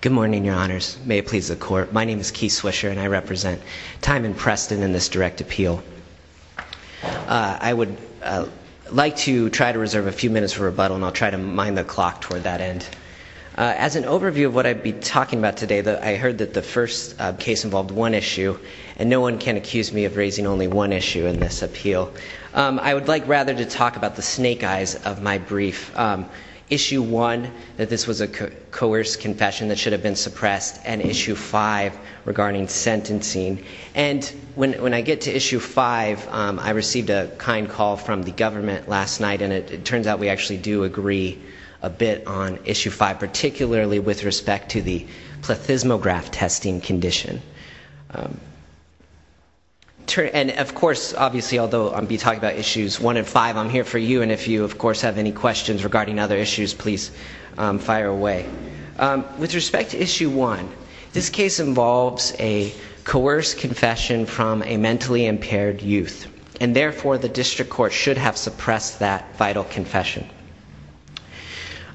Good morning, your honors. May it please the court. My name is Keith Swisher and I represent Tymond Preston in this direct appeal. I would like to try to reserve a few minutes for rebuttal and I'll try to mine the clock toward that end. As an overview of what I'd be talking about today, I heard that the first case involved one issue and no one can accuse me of raising only one issue in this appeal. I would like rather to talk about the snake eyes of my confession that should have been suppressed and issue five regarding sentencing. And when I get to issue five, I received a kind call from the government last night and it turns out we actually do agree a bit on issue five, particularly with respect to the plethysmograph testing condition. And of course, obviously, although I'll be talking about issues one and five, I'm here for you and if you of course have any questions regarding other issues, please fire away. With respect to issue one, this case involves a coerced confession from a mentally impaired youth and therefore the district court should have suppressed that vital confession.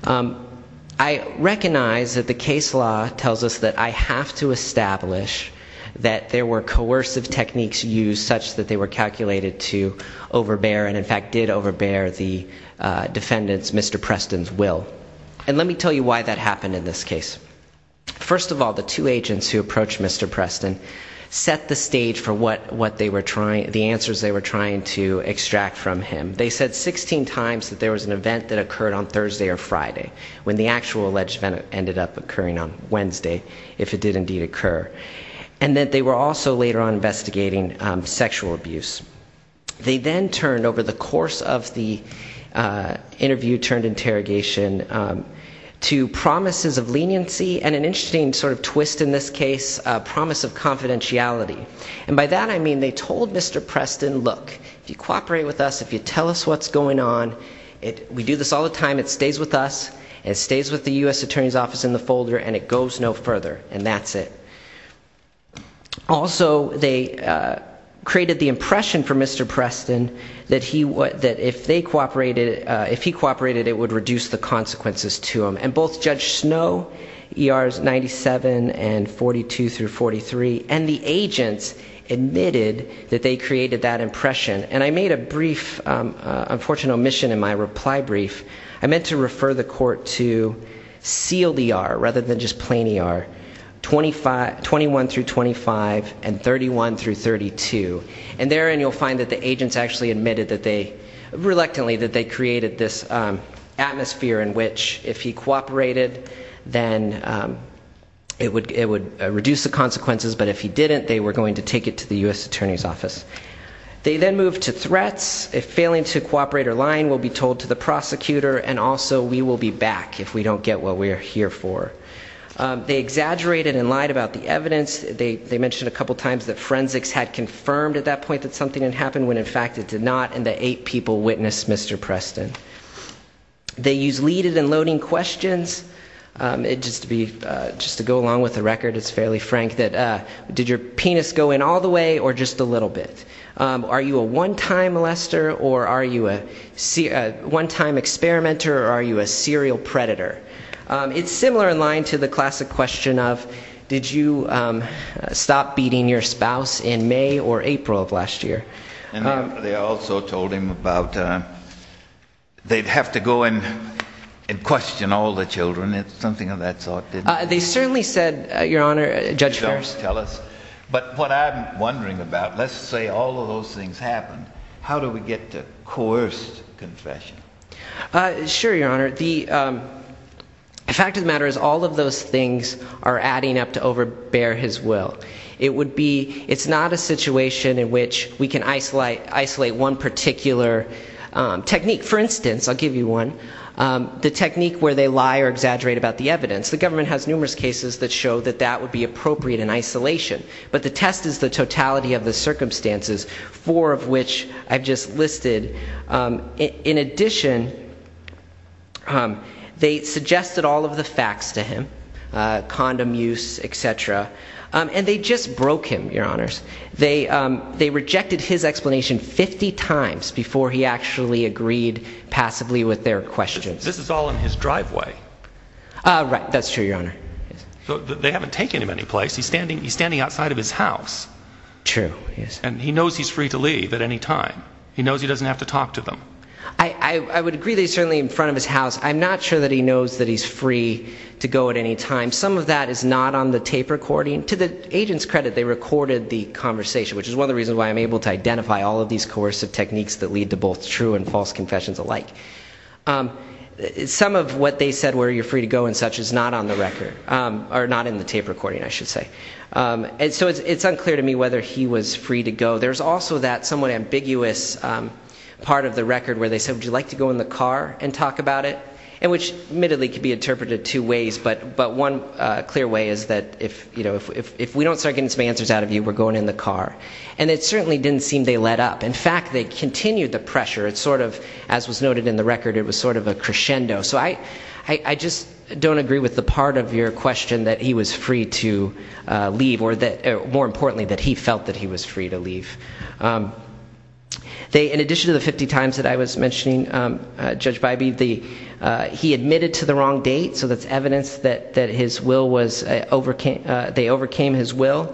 I recognize that the case law tells us that I have to establish that there were coercive techniques used such that they were calculated to overbear and in fact did overbear the defendant's, Mr. Preston's, will. And let me tell you why that happened in this case. First of all, the two agents who approached Mr. Preston set the stage for what they were trying, the answers they were trying to extract from him. They said 16 times that there was an event that occurred on Thursday or Friday when the actual alleged event ended up occurring on Wednesday, if it did indeed occur. And that they were also later on investigating sexual abuse. They then turned over the course of the interview turned interrogation to promises of leniency and an interesting sort of twist in this case, a promise of confidentiality. And by that I mean they told Mr. Preston, look, if you cooperate with us, if you tell us what's going on, we do this all the time, it stays with us, it stays with the U.S. Attorney's Office, it stays in the folder, and it goes no further. And that's it. Also, they created the impression for Mr. Preston that if he cooperated, it would reduce the consequences to him. And both Judge Snow, ERs 97 and 42 through 43, and the agents admitted that they created that impression. And I made a brief unfortunate omission in my reply brief. I sealed ER rather than just plain ER. 21 through 25 and 31 through 32. And therein you'll find that the agents actually admitted that they, reluctantly, that they created this atmosphere in which if he cooperated, then it would reduce the consequences, but if he didn't, they were going to take it to the U.S. Attorney's Office. They then moved to threats. If failing to get what we're here for. They exaggerated and lied about the evidence. They mentioned a couple times that forensics had confirmed at that point that something had happened when in fact it did not, and that eight people witnessed Mr. Preston. They used leaded and loading questions, just to go along with the record, it's fairly frank, that did your penis go in all the way or just a little bit? Are you a one-time molester or are you a one-time experimenter or are you a serial predator? It's similar in line to the classic question of did you stop beating your spouse in May or April of last year? And then they also told him about they'd have to go and question all the children. It's something of that sort. They certainly said, Your Honor, Judge Ferris. But what I'm wondering about, let's say all those things happened, how do we get to coerced confession? Sure, Your Honor. The fact of the matter is all of those things are adding up to overbear his will. It would be, it's not a situation in which we can isolate one particular technique. For instance, I'll give you one, the technique where they lie or exaggerate about the evidence. The government has numerous cases that show that that would be appropriate in isolation. But the test is the totality of the circumstances, four of which I've just listed. In addition, they suggested all of the facts to him, condom use, etc. And they just broke him, Your Honors. They rejected his explanation 50 times before he actually agreed passively with their questions. This is all in his driveway. Right, that's true, Your Honor. So they haven't taken him any to his house. True, yes. And he knows he's free to leave at any time. He knows he doesn't have to talk to them. I would agree that he's certainly in front of his house. I'm not sure that he knows that he's free to go at any time. Some of that is not on the tape recording. To the agent's credit, they recorded the conversation, which is one of the reasons why I'm able to identify all of these coercive techniques that lead to both true and false confessions alike. Some of what they said where you're free to go and such is not on the record, or not in the tape recording, I should say. So it's unclear to me whether he was free to go. There's also that somewhat ambiguous part of the record where they said, would you like to go in the car and talk about it? Which admittedly can be interpreted two ways, but one clear way is that if we don't start getting some answers out of you, we're going in the car. And it certainly didn't seem they let up. In fact, they continued the pressure. As was noted in the record, it was sort of a crescendo. So I just don't agree with the part of your question that he was free to leave, or more importantly, that he felt that he was free to leave. In addition to the 50 times that I was mentioning Judge Bybee, he admitted to the wrong date. So that's evidence that they overcame his will.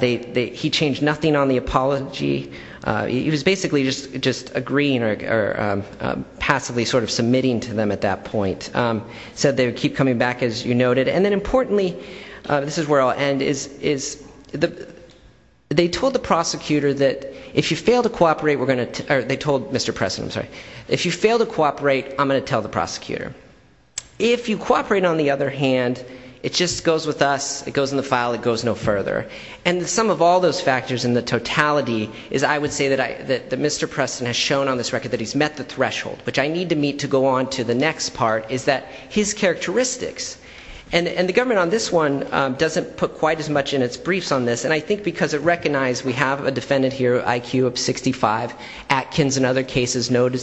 He changed nothing on the apology. He was basically just agreeing or passively sort of submitting to them at that point. So they keep coming back, as you noted. And then importantly, this is where I'll end, is they told the prosecutor that if you fail to cooperate, we're going to, they told Mr. Preston, I'm sorry, if you fail to cooperate, I'm going to tell the prosecutor. If you cooperate, on the other hand, it just goes with us. It goes in the file. It goes no further. And some of all those factors in the totality is I would say that Mr. Preston has shown on this record that he's met the threshold, which I need to meet to go on to the next part, is that his characteristics. And the government on this one doesn't put quite as much in its briefs on this. And I think because it recognized we have a defendant here, IQ of 65, Atkins and other cases note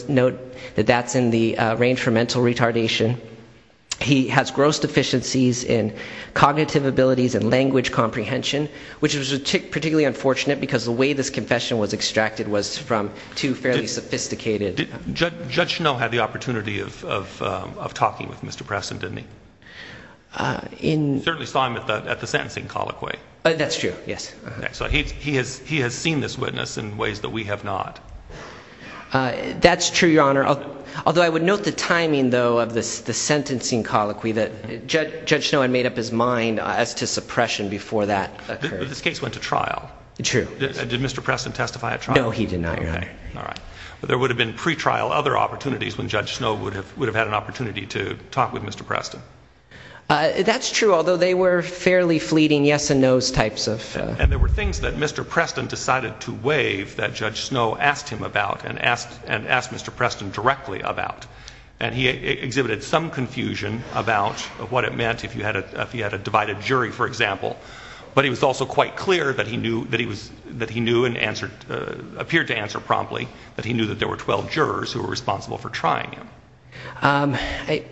that that's in the range for mental retardation. He has gross deficiencies in cognitive abilities and language comprehension, which was particularly unfortunate because the way this confession was extracted was from two fairly sophisticated Judges. No. Had the opportunity of, of, um, of talking with Mr. Preston, didn't he? Uh, in certainly saw him at the, at the sentencing colloquy. That's true. Yes. So he, he has, he has seen this witness in ways that we have not. Uh, that's true. Your honor. Although I would note the timing though, of this, the sentencing colloquy that judge, judge snow and made up his mind as to suppression before that this case went to trial. Did Mr. Preston testify at trial? No, he did not. All right. But there would have been pretrial other opportunities when judge snow would have, would have had an opportunity to talk with Mr. Preston. Uh, that's true. Although they were fairly fleeting yes and no's types of, and there were things that Mr. Preston decided to waive that judge snow asked him about and asked, and asked Mr. Preston directly about, and he exhibited some confusion about what it meant if you had a, if you had a divided jury, for example, but he was also quite clear that he knew that he was, that he knew and answered, uh, appeared to answer promptly that he knew that there were 12 jurors who were responsible for trying him. Um, I,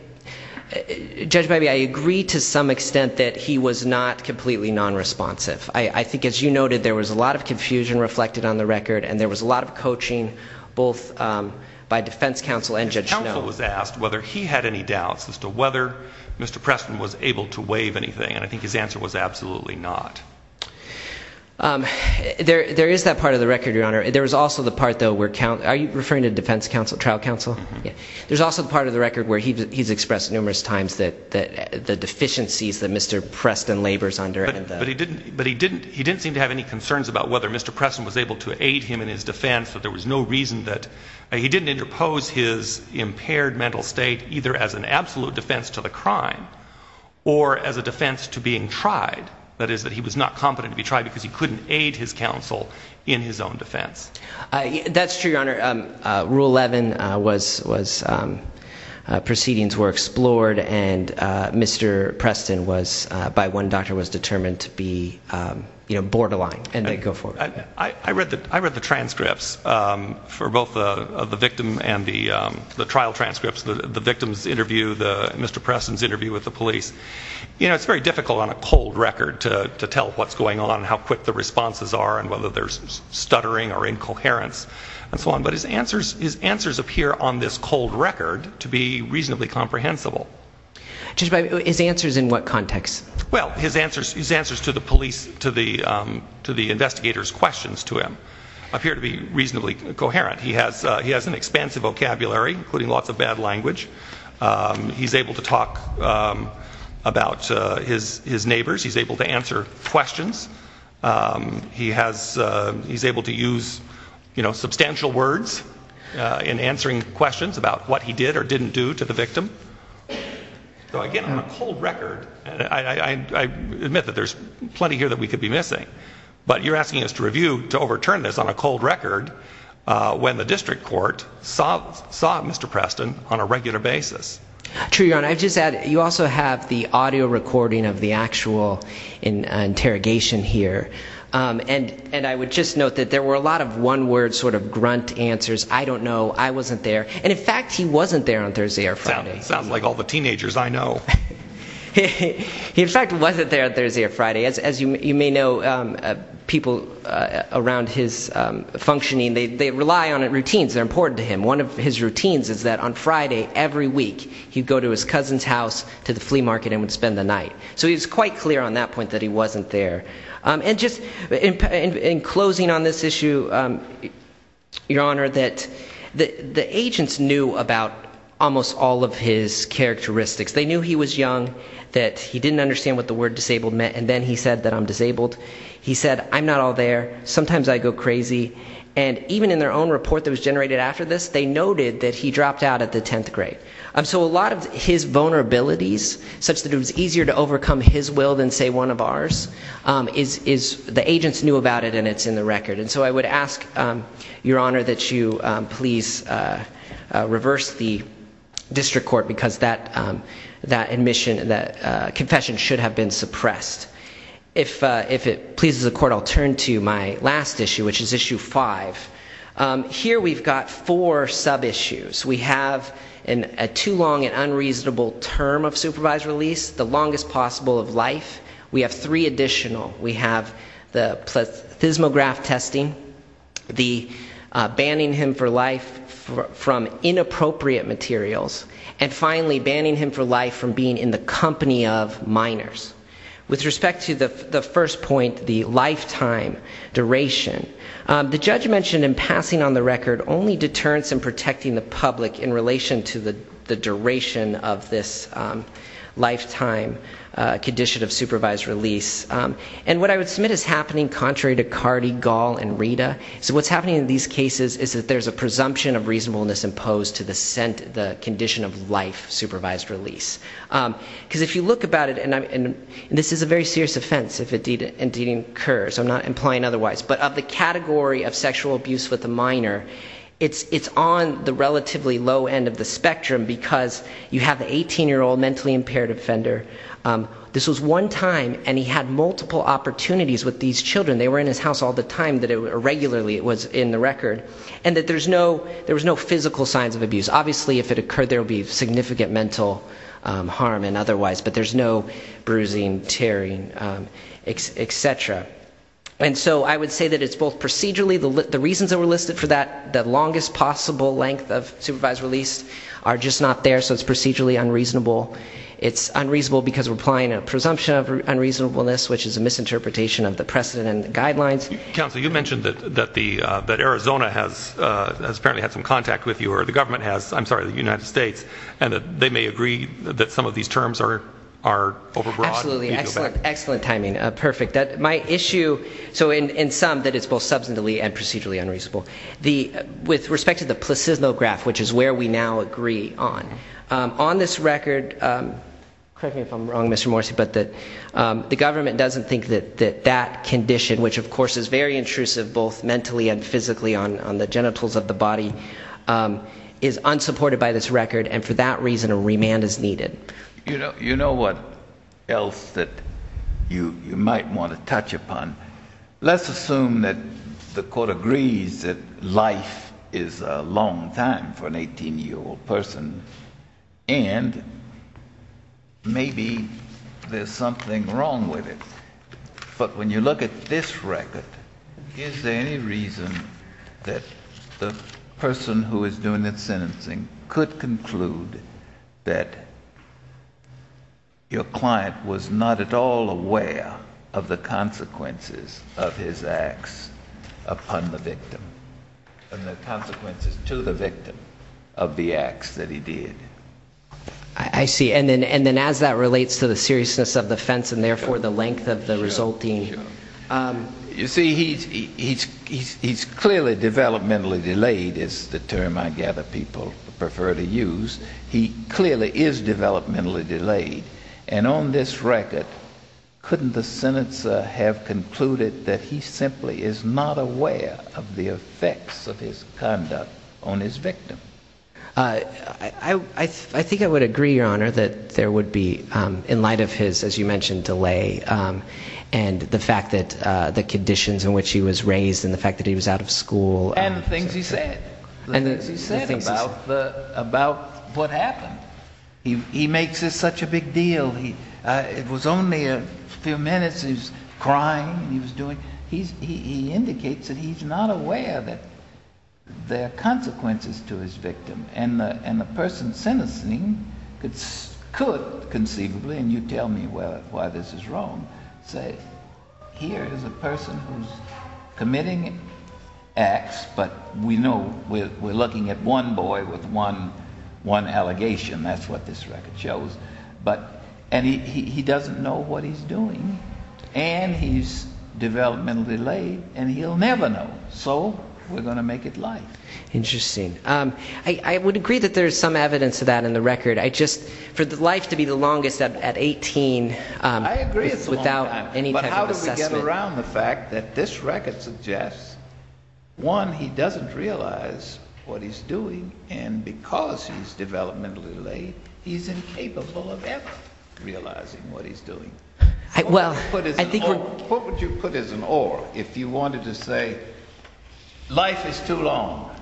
judge baby, I agree to some extent that he was not completely non-responsive. I think as you noted, there was a lot of confusion reflected on the record and there was a lot of coaching both, um, by defense counsel and judge snow was asked whether he had any doubts as to whether Mr. Preston was able to waive anything. And I think his answer was absolutely not. Um, there, there is that part of the record, your honor. There was also the part though, where count, are you referring to defense counsel, trial counsel? Yeah. There's also the part of the record where he, he's expressed numerous times that, that the deficiencies that Mr. Preston labors under. But he didn't, but he didn't, he didn't seem to have any concerns about whether Mr. Preston was able to aid him in his defense, that there was no reason that he didn't interpose his impaired mental state either as an absolute defense to the crime or as a defense to being tried. That is that he was not competent to be tried because he couldn't aid his counsel in his own defense. Uh, that's true, your honor. Um, uh, rule 11, uh, was, was, um, uh, proceedings were explored and, uh, Mr. Preston was, uh, by one doctor was determined to be, um, you know, borderline and then go forward. I read the, I read the transcripts, um, for both the, uh, the victim and the, um, the trial transcripts, the, the victim's interview, the Mr. Preston's interview with the police. You know, it's very difficult on a cold record to, to tell what's going on and how quick the responses are and whether there's stuttering or incoherence and so on. But his answers, his answers appear on this cold record to be reasonably comprehensible. Judge, his answers in what context? Well, his answers, his answers to the police, to the, um, to the investigators questions to him appear to be reasonably coherent. He has, uh, he has an expansive vocabulary, including lots of bad language. Um, he's able to talk, um, about, uh, his, his neighbors. He's able to answer questions. Um, he has, uh, he's able to use, you know, substantial words, uh, in answering questions about what he did or didn't do to the victim. So, again, on a cold record, I, I, I admit that there's plenty here that we could be missing, but you're asking us to review, to overturn this on a cold record, uh, when the district court saw, saw Mr. Preston on a regular basis. True, Your Honor, I just add, you also have the audio recording of the actual interrogation here. Um, and, and I would just note that there were a lot of one word sort of grunt answers. I don't know. I wasn't there. And in fact, he wasn't there on Thursday or Friday. Sounds like all the teenagers I know. He, he, he in fact wasn't there on Thursday or Friday. As, as you, you may know, um, uh, people, uh, around his, um, functioning, they, they rely on routines. They're important to him. One of his routines is that on Friday, every week, he'd go to his cousin's house to the flea market and would spend the night. So he was quite clear on that point that he wasn't there. Um, and just in, in, in closing on this issue, um, Your Honor, that the, the agents knew about almost all of his characteristics. They knew he was young, that he didn't understand what the word disabled meant, and then he said that I'm disabled. He said, I'm not all there. Sometimes I go crazy. And even in their own report that was generated after this, they noted that he dropped out at the 10th grade. Um, so a lot of his vulnerabilities, such that it was easier to overcome his will than say one of ours, um, is, is, the agents knew about it and it's in the record. And so I would ask, um, Your Honor, that you, um, please, uh, uh, reverse the district court because that, um, that admission, that, uh, confession should have been suppressed. If, uh, if it pleases the court, I'll turn to my last issue, which is issue five. Um, here we've got four sub-issues. We have an, a too long and unreasonable term of supervised release, the longest possible of life. We have three additional. We have the plethysmograph testing, the, uh, banning him for life for, from inappropriate materials, and finally, banning him for life from being in the company of minors. With respect to the, the first point, the lifetime duration, um, the judge mentioned in passing on the record only deterrence in protecting the public in relation to the, the duration of this, um, lifetime, uh, condition of supervised release. Um, and what I would submit is happening contrary to Cardi, Gall, and Rita. So what's happening in these cases is that there's a presumption of reasonableness imposed to the sent, the condition of life supervised release. Um, cause if you look about it, and I'm, and this is a very serious offense if it deed, indeed incurs, I'm not implying otherwise, but of the category of sexual abuse with a minor, it's, it's on the relatively low end of the spectrum because you have the 18-year-old mentally impaired offender. Um, this was one time, and he had multiple opportunities with these children. They were in his house all the time that it, regularly it was in the record, and that there's no, there was no physical signs of abuse. Obviously if it occurred there would be significant mental, um, harm and otherwise, but there's no bruising, tearing, um, etc. And so I would say that it's both procedurally, the, the reasons that were listed for that, the longest possible length of supervised release are just not there, so it's procedurally unreasonable. It's unreasonable because we're making a presumption of unreasonableness, which is a misinterpretation of the precedent and guidelines. Counsel, you mentioned that, that the, uh, that Arizona has, uh, has apparently had some contact with you, or the government has, I'm sorry, the United States, and that they may agree that some of these terms are, are over broad. Absolutely, excellent, excellent timing, uh, perfect. That, my issue, so in, in sum, that it's both substantively and procedurally unreasonable. The, with respect to the placismo graph, which is where we now agree on, um, on this record, um, correct me if I'm wrong, Mr. Morrissey, but that, um, the government doesn't think that, that that condition, which of course is very intrusive both mentally and physically on, on the genitals of the body, um, is unsupported by this record and for that reason a remand is needed. You know, you know what else that you, you might want to touch upon? Let's assume that the court agrees that life is a long time for an 18 year old person and maybe there's something wrong with it, but when you look at this record, is there any reason that the person who is doing the sentencing could conclude that your client was not at all aware of the consequences of his acts upon the victim and the consequences to the victim of the acts that he did? I, I see. And then, and then as that relates to the seriousness of the offense and therefore the length of the resulting, um, you see he's, he's, he's, he's clearly developmentally delayed is the term I gather people prefer to use. He clearly is developmentally delayed and on this record, couldn't the sentence have concluded that he simply is not aware of the effects of his conduct on his victim? Uh, I, I, I think I would agree, your honor, that there would be, um, in light of his, as you mentioned, delay, um, and the fact that, uh, the conditions in which he was raised and the fact that he was out of school. And the things he said, the things he said about the, about what happened. He, he makes it such a big deal. He, uh, it was only a few minutes, he was crying, he was doing, he's, he, he indicates that he's not aware that there are consequences to his victim. And the, and the person sentencing could, could conceivably, and you tell me why this is wrong, say here is a person who's committing acts, but we know we're, we're looking at one boy with one, one allegation. That's what this boy is doing. And he's developmentally late and he'll never know. So we're going to make it light. Interesting. Um, I, I would agree that there's some evidence of that in the record. I just, for the life to be the longest at 18, um, without any type of assessment. But how do we get around the fact that this record suggests one, he doesn't realize what he's doing and because he's developmentally late, he's incapable of ever realizing what he's doing. I, well, I think what would you put as an or if you wanted to say life is too long,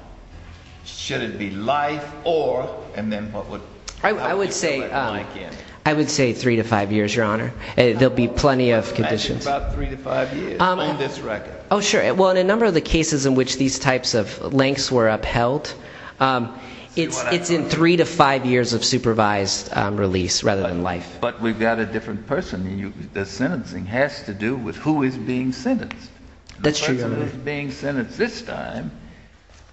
should it be life or, and then what would I would say, I would say three to five years, your honor, there'll be plenty of conditions about three to five years on this record. Oh sure. Well, in a number of the cases in which these types of links were upheld, um, it's in three to five years of supervised, um, release rather than life. But we've got a different person. The sentencing has to do with who is being sentenced. That's true. The person who's being sentenced this time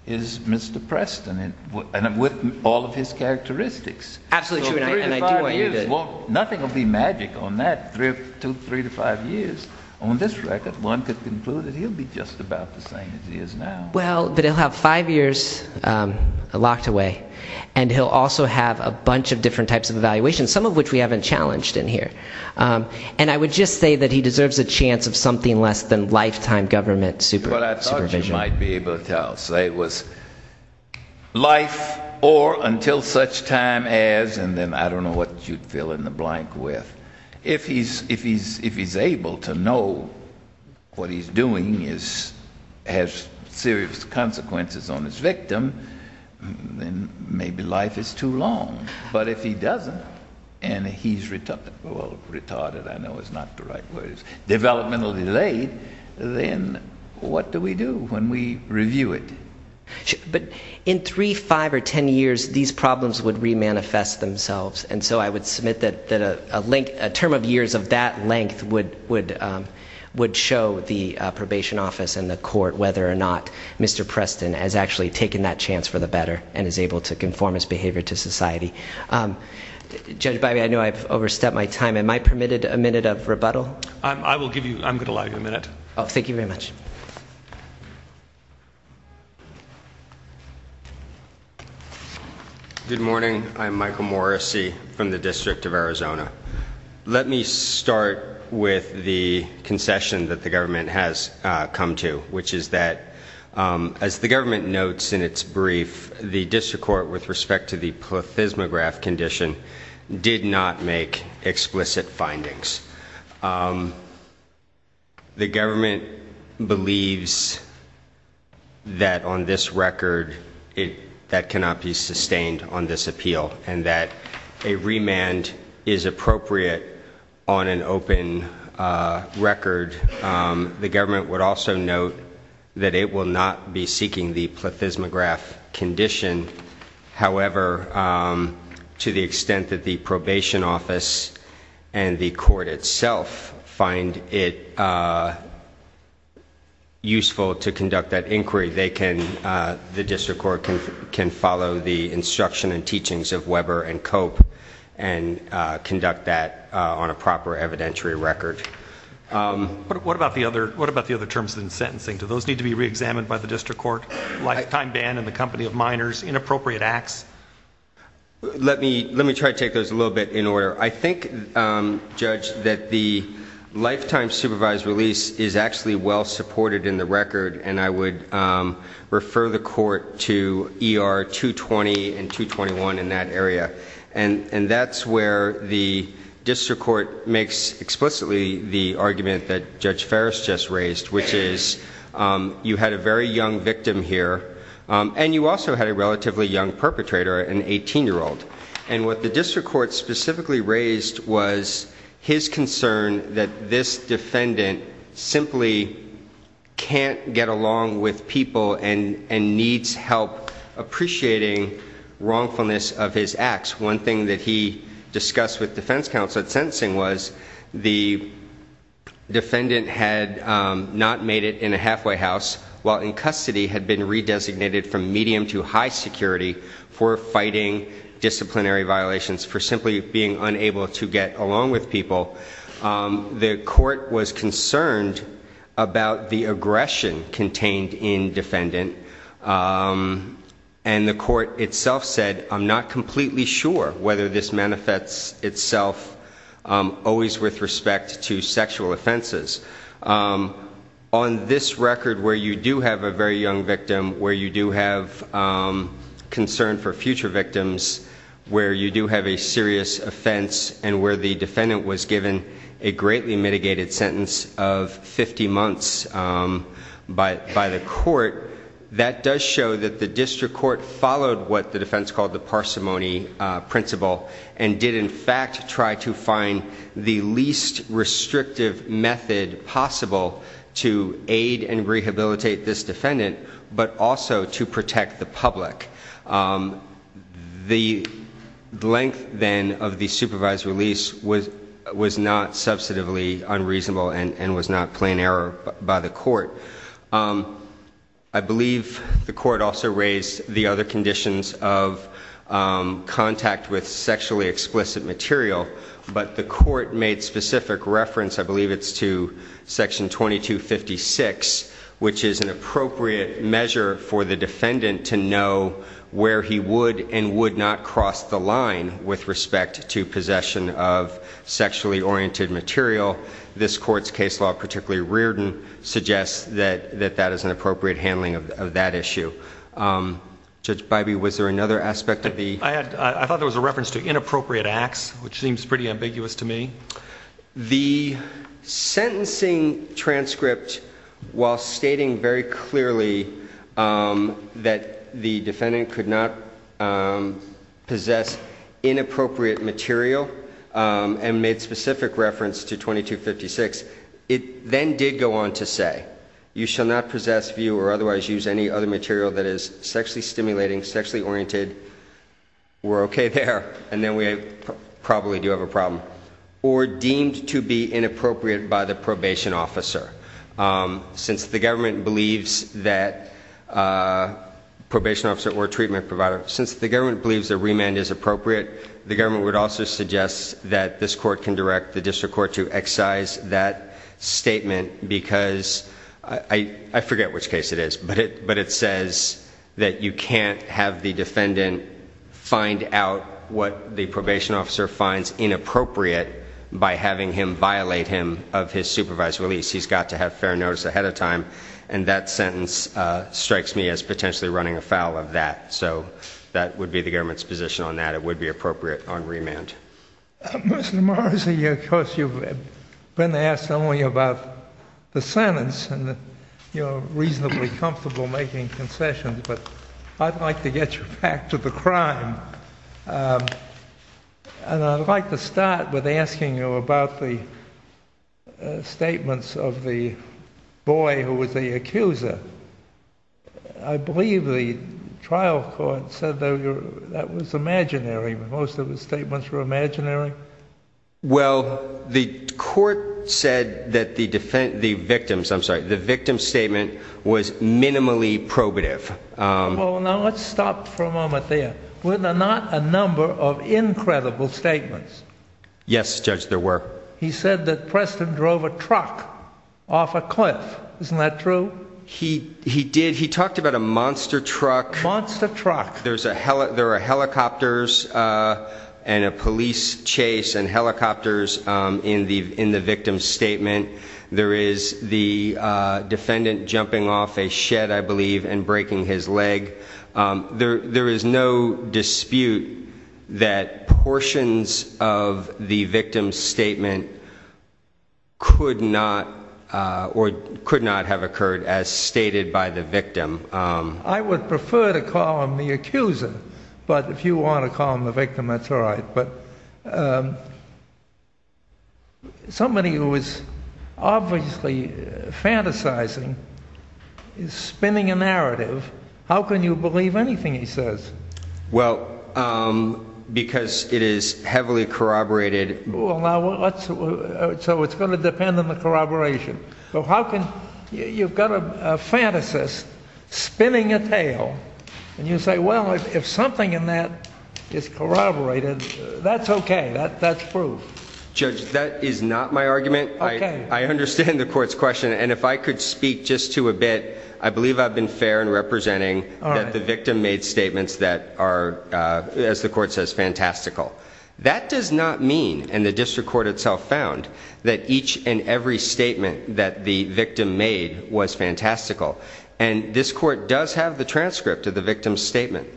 is Mr. Preston and with all of his characteristics. Absolutely. Three to five years. Well, nothing will be magic on that three to five years on this record. One could conclude that he'll be just about the same as he is now. Well, but he'll have five years, um, locked away and he'll also have a bunch of different types of evaluation, some of which we haven't challenged in here. Um, and I would just say that he deserves a chance of something less than lifetime government supervision. But I thought you might be able to tell, say it was life or until such time as, and then I don't know what you'd fill in the blank with. If he's, if he's, if he's able to know what he's doing is, has serious consequences on his victim, then maybe life is too long. But if he doesn't and he's retarded, well, retarded, I know is not the right words, developmental delayed, then what do we do when we review it? But in three, five or 10 years, these problems would re-manifest themselves. And so I would submit that, that a link, a term of years of that length would, would, um, would show the, uh, probation office and the court whether or not Mr. Preston has actually taken that behavior to society. Um, judge, by the way, I know I've overstepped my time. Am I permitted a minute of rebuttal? I will give you, I'm going to allow you a minute. Oh, thank you very much. Good morning. I'm Michael Morrissey from the District of Arizona. Let me start with the concession that the government has, uh, come to, which is that, um, as the government notes in its brief, the district court with respect to the plethysmograph condition did not make explicit findings. Um, the government believes that on this record, it, that cannot be sustained on this appeal and that a remand is appropriate on an open, uh, record. Um, the government would also note that it will not be seeking the plethysmograph condition. However, um, to the extent that the probation office and the court itself find it, uh, useful to conduct that inquiry, they can, uh, the district court can, can follow the instruction and teachings of Weber and cope and, uh, conduct that, uh, on a proper evidentiary record. Um, what about the other, what about the other terms in sentencing? Do those need to be reexamined by the district court, lifetime ban and the company of minors inappropriate acts? Let me, let me try to take those a little bit in order. I think, um, judge that the lifetime supervised release is actually well supported in the record. And I would, um, refer the court to ER two 20 and two 21 in that area. And, and that's where the district court makes explicitly the argument that judge Ferris just raised, which is, um, you had a very young victim here. Um, and you also had a relatively young perpetrator, an 18 year old. And what the district court specifically raised was his concern that this defendant simply can't get along with people and, and needs help appreciating wrongfulness of his acts. One thing that he discussed with defense counsel at sentencing was the defendant had, um, not made it in a halfway house while in custody had been redesignated from medium to high security for fighting disciplinary violations for simply being unable to get along with people. Um, the court was concerned about the aggression contained in defendant. Um, and the court itself said, I'm not completely sure whether this manifests itself, um, always with respect to sexual offenses. Um, on this record where you do have a very young victim, where you do have, um, concern for future victims, where you do have a serious offense and where the defendant was given a greatly mitigated sentence of 50 months, um, by, by the court, that does show that the district court followed what the defense called the parsimony, uh, principle and did in fact try to find the least restrictive method possible to aid and rehabilitate this defendant, but also to protect the public. Um, the length then of the supervised release was, was not substantively unreasonable and, and was not a plain error by the court. Um, I believe the court also raised the other conditions of, um, contact with sexually explicit material, but the court made specific reference, I believe it's to section 2256, which is an appropriate measure for the defendant to know where he would and would not cross the line with respect to possession of sexually oriented material. This court's case law, particularly Reardon, suggests that, that that is an appropriate handling of that issue. Um, Judge Bybee, was there another aspect of the, I thought there was a reference to inappropriate acts, which seems pretty ambiguous to me. The sentencing transcript while stating very clearly, um, that the defendant could not, um, possess inappropriate material, um, and made specific reference to 2256, it then did go on to say, you shall not possess, view or otherwise use any other material that is sexually stimulating, sexually oriented. We're okay there. And then we probably do have a problem or deemed to be inappropriate by the probation officer. Um, since the government believes that, uh, the government believes that remand is appropriate, the government would also suggest that this court can direct the district court to excise that statement because I, I forget which case it is, but it, but it says that you can't have the defendant find out what the probation officer finds inappropriate by having him violate him of his supervised release. He's got to have fair notice ahead of time. And that sentence, uh, strikes me as potentially running afoul of that. So that would be the government's position on that. It would be appropriate on remand. Mr. Morris, of course, you've been asked only about the sentence and you're reasonably comfortable making concessions, but I'd like to get you back to the crime. Um, and I'd like to start with asking you about the, uh, statements of the boy who was the accuser. I believe the trial court said that that was imaginary, but most of the statements were imaginary. Well, the court said that the defense, the victims, I'm sorry, the victim's statement was minimally probative. Um. Well, now let's stop for a moment there. Were there not a number of incredible statements? Yes, Judge, there were. He said that Preston drove a truck off a cliff. Isn't that true? He, he did. He talked about a monster truck, monster truck. There's a hell, there are helicopters, uh, and a police chase and helicopters. Um, in the, in the victim's statement, there is the, uh, defendant jumping off a shed, I believe, and breaking his leg. Um, there, there is no dispute that portions of the victim's statement could not, uh, or could not have occurred as stated by the victim. Um. I would prefer to call him the accuser, but if you want to call him the victim, that's all right. But, somebody who is obviously fantasizing is spinning a narrative. How can you believe anything he says? Well, um, because it is heavily corroborated. Well, now, let's, so it's going to depend on the corroboration. But how can, you've got a fantasist spinning a tale, and you say, well, if something in that is corroborated, that's okay. That's proof. Judge, that is not my argument. Okay. I understand the court's question, and if I could speak just to a bit, I believe I've been fair in representing that the victim made statements that are, uh, as the court says, fantastical. That does not mean, and the district court itself found, that each and every statement that the victim made was fantastical. And this court does have the transcript of the victim's statement.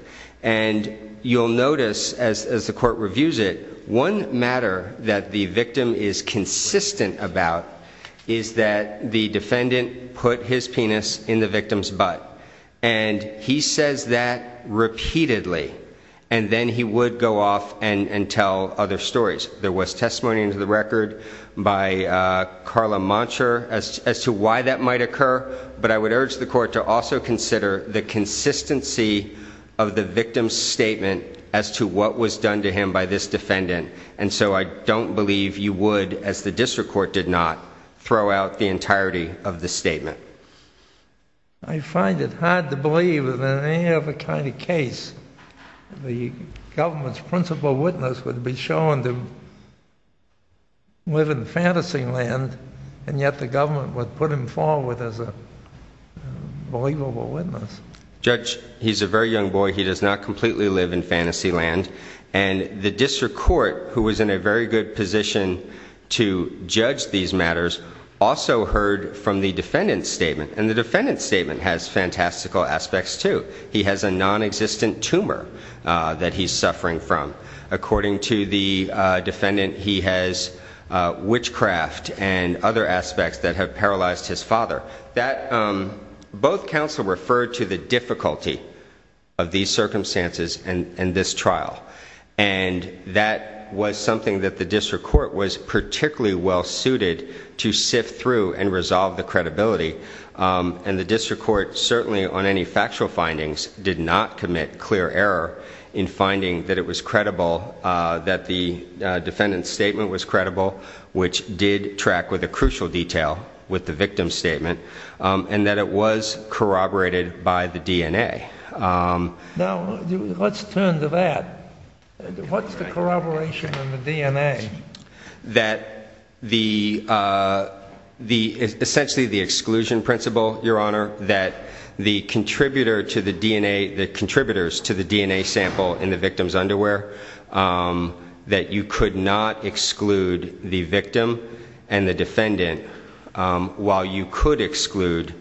And you'll notice, as, as the court reviews it, one matter that the victim is consistent about is that the defendant put his penis in the victim's butt. And he says that repeatedly. And then he would go off and, and tell other stories. There was testimony into the record by, uh, Carla Monsher as, as to why that might occur. But I would urge the court to also consider the consistency of the victim's statement as to what was done to him by this defendant. And so I don't believe you would, as the district court, did not throw out the entirety of the statement. I find it hard to believe that in any other kind of case, the government's principal witness would be shown to live in fantasy land, and yet the government would put him forward as a believable witness. Judge, he's a very young boy. He does not completely live in fantasy land. And the district court, who was in a very good position to judge these matters, also heard from the defendant's statement. And the defendant's statement has fantastical aspects, too. He has a non-existent tumor that he's suffering from. According to the defendant, he has witchcraft and other aspects that have paralyzed his father. That, um, both counsel referred to the difficulty of these circumstances and this trial. And that was something that the district court was particularly well-suited to sift through and resolve the credibility. And the district court, certainly on any factual findings, did not commit clear error in finding that it was credible, that the defendant's statement was credible, which did track with a crucial detail with the victim's statement, and that it was corroborated by the DNA. Now, let's turn to that. What's the corroboration in the DNA? That the, uh, the, essentially the exclusion principle, Your Honor, that the contributor to the DNA, the contributors to the DNA sample in the victim's underwear, that you could not exclude the victim and the defendant, um, while you could exclude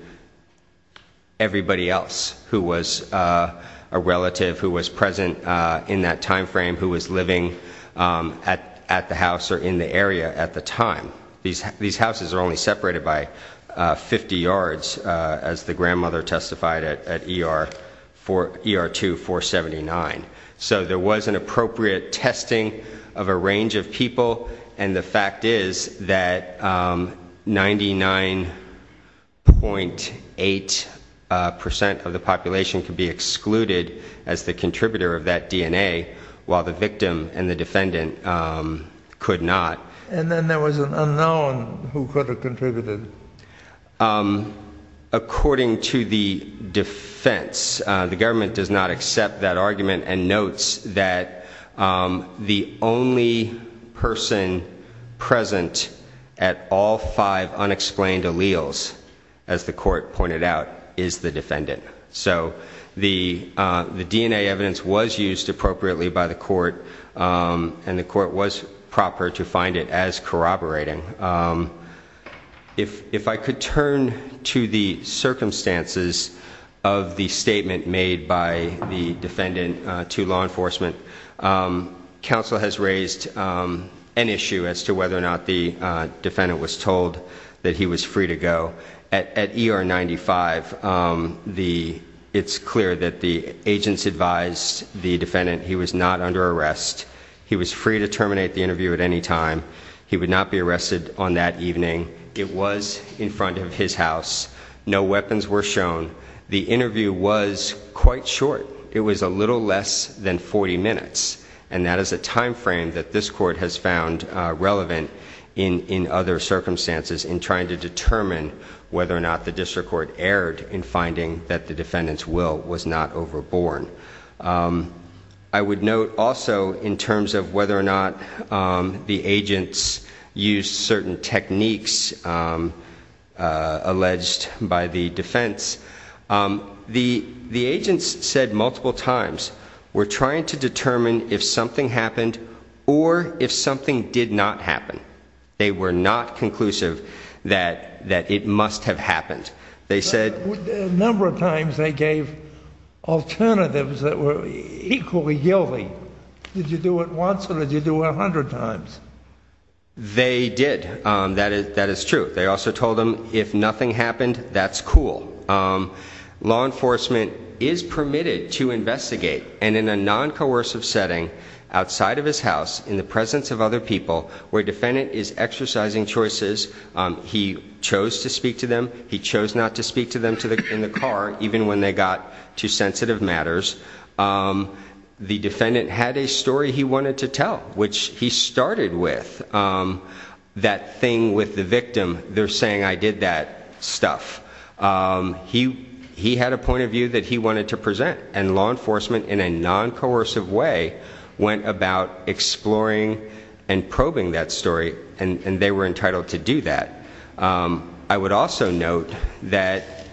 everybody else who was, uh, a relative, who was present, uh, in that time frame, who was living, um, at the house or in the area at the time. These houses are only separated by 50 yards, uh, as the grandmother testified at ER, ER 2479. So there was an appropriate testing of a range of people, and the fact is that, um, 99.8%, uh, percent of the population could be excluded as the contributor of that DNA, while the victim and the defendant, um, could not. And then there was an unknown who could have contributed. Um, according to the defense, uh, the government does not accept that argument and notes that, um, the only person present at all five unexplained alleles, as the court pointed out, is the defendant. So the, uh, the DNA evidence was used appropriately by the court, um, and the court was proper to find it as corroborating. Um, if, if I could turn to the circumstances of the statement made by the defendant, uh, to law enforcement, um, counsel has raised, um, an issue as to whether or not the, uh, defendant was told that he was free to go. At ER 95, um, the, it's clear that the agents advised the defendant he was not under arrest. He was free to terminate the interview at any time. He would not be arrested on that phone. The interview was quite short. It was a little less than 40 minutes. And that is a timeframe that this court has found, uh, relevant in, in other circumstances in trying to determine whether or not the district court erred in finding that the defendant's will was not overborn. Um, I would note also in terms of whether or not, um, the agents used certain techniques, um, uh, alleged by the defense, um, the, the agents said multiple times, we're trying to determine if something happened or if something did not happen. They were not conclusive that, that it must have happened. They said, a number of times they gave alternatives that were equally guilty. Did you do it once or did you do it 100 times? They did. Um, that is, that is true. They also told him if nothing happened, that's cool. Um, law enforcement is permitted to investigate and in a non-coercive setting outside of his house, in the presence of other people where defendant is exercising choices, um, he chose to speak to them. He chose not to speak to them to the, in the car, even when they got to sensitive matters. Um, the defendant had a story he wanted to tell, which he started with, um, that thing with the victim. They're saying, I did that stuff. Um, he, he had a point of view that he wanted to present and law enforcement in a non-coercive way went about exploring and probing that story and they were entitled to do that. Um, I would also note that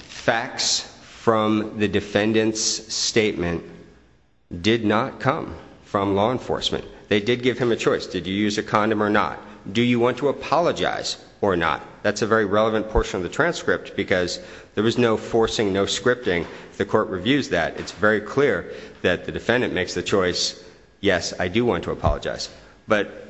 facts from the defendant's statement did not come from law enforcement. They did give him a choice. Did you use a condom or not? Do you want to apologize or not? That's a very relevant portion of the transcript because there was no forcing, no scripting. The court reviews that. It's very clear that the defendant makes the choice. Yes, I do want to apologize. But,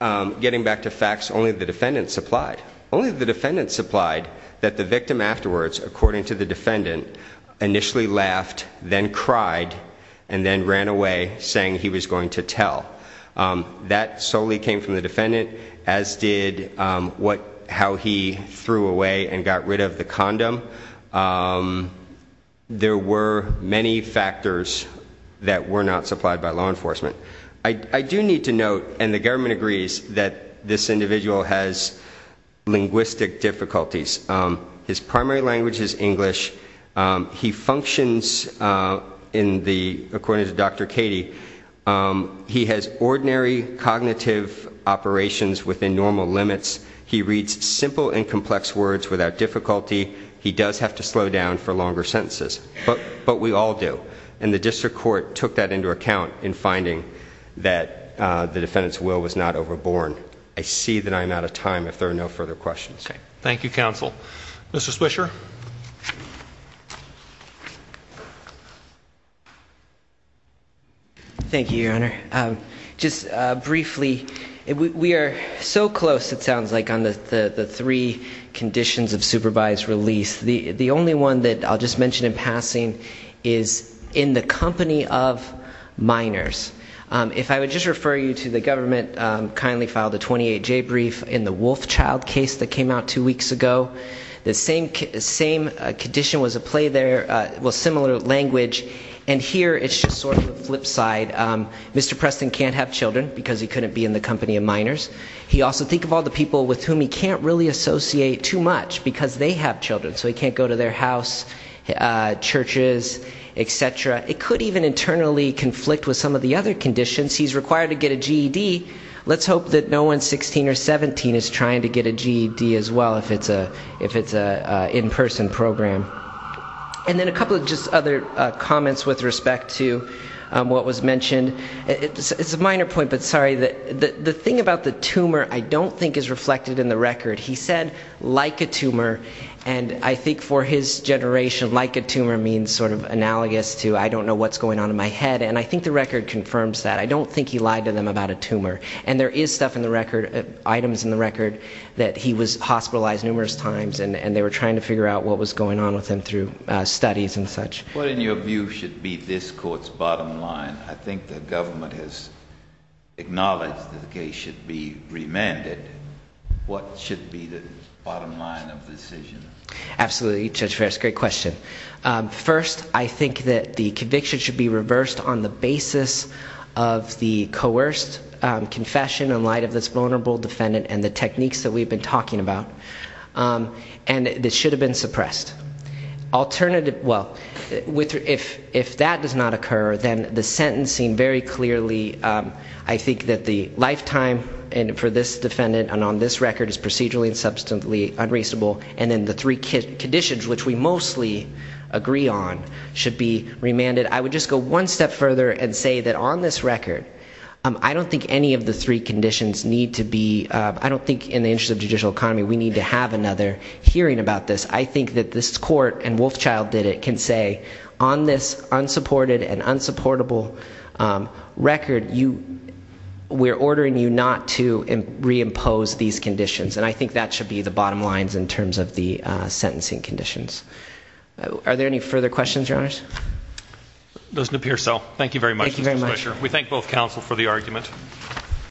um, getting back to facts, only the defendant supplied only the defendant supplied that the victim afterwards, according to the defendant, initially laughed, then cried and then ran away saying he was going to tell, um, that solely came from the defendant as did, um, what, how he threw away and got rid of the condom. Um, there were many factors that were not supplied by law enforcement. I, I do need to note, and the government agrees that this individual has linguistic difficulties. Um, his primary language is English. Um, he functions, uh, in the, according to Dr. Katie, um, he has ordinary cognitive operations within normal limits. He reads simple and complex words without difficulty. He does have to slow down for longer sentences, but, but we all do. And the district court took that into account in finding that, uh, the defendant's will was not overborne. I see that I'm out of time if there are no further questions. Okay. Thank you, counsel. Mr. Swisher. Thank you, your honor. Um, just, uh, briefly, we, we are so close it sounds like on the, the, the three conditions of supervised release. The, the only one that I'll just mention in passing is in the company of minors. Um, if I would just refer you to the government, um, kindly filed a 28J brief in the Wolfchild case that came out two weeks ago, the same, same condition was a play there, uh, well, similar language. And here it's just sort of a flip side. Um, Mr. Preston can't have children because he couldn't be in the company of minors. He also think of all the people with whom he can't really associate too much because they have children. So he can't go to their house, uh, churches, et cetera. It could even internally conflict with some of the other conditions. He's required to get a GED. Let's hope that no one's 16 or 17 is trying to get a GED as well if it's a, if it's a in-person program. And then a couple of just other, uh, comments with respect to, um, what was mentioned. It's a minor point, but sorry that the, the thing about the tumor I don't think is reflected in the record. He said, like a tumor. And I think for his generation, like a tumor means sort of analogous to, I don't know what's going on in my head. And I think the record confirms that. I don't think he lied to them about a tumor. And there is stuff in the record, items in the record that he was hospitalized numerous times and, and they were trying to figure out what was going on with him through, uh, studies and such. What in your view should be this court's bottom line? I think the government has acknowledged that the case should be remanded. What should be the bottom line of the decision? Absolutely. Judge Ferris, great question. Um, first I think that the conviction should be reversed on the basis of the coerced, um, confession in light of this vulnerable defendant and the techniques that we've been talking about. Um, and this should have been suppressed. Alternative, well, with, if, if that does not occur, then the sentencing very clearly, um, I think that the lifetime and for this defendant and on this record is procedurally and substantially unreasonable. And then the three conditions, which we mostly agree on should be remanded. I would just go one step further and say that on this record, um, I don't think any of the three conditions need to be, uh, I don't think in the interest of judicial economy, we need to have another hearing about this. I think that this court and Wolfchild did it, can say on this unsupported and unsupportable, um, record, you, we're ordering you not to reimpose these conditions. And I think that should be the bottom lines in terms of the, uh, sentencing conditions. Are there any further questions? Your honors? Doesn't appear so. Thank you very much. Thank you very much. We thank both counsel for the argument.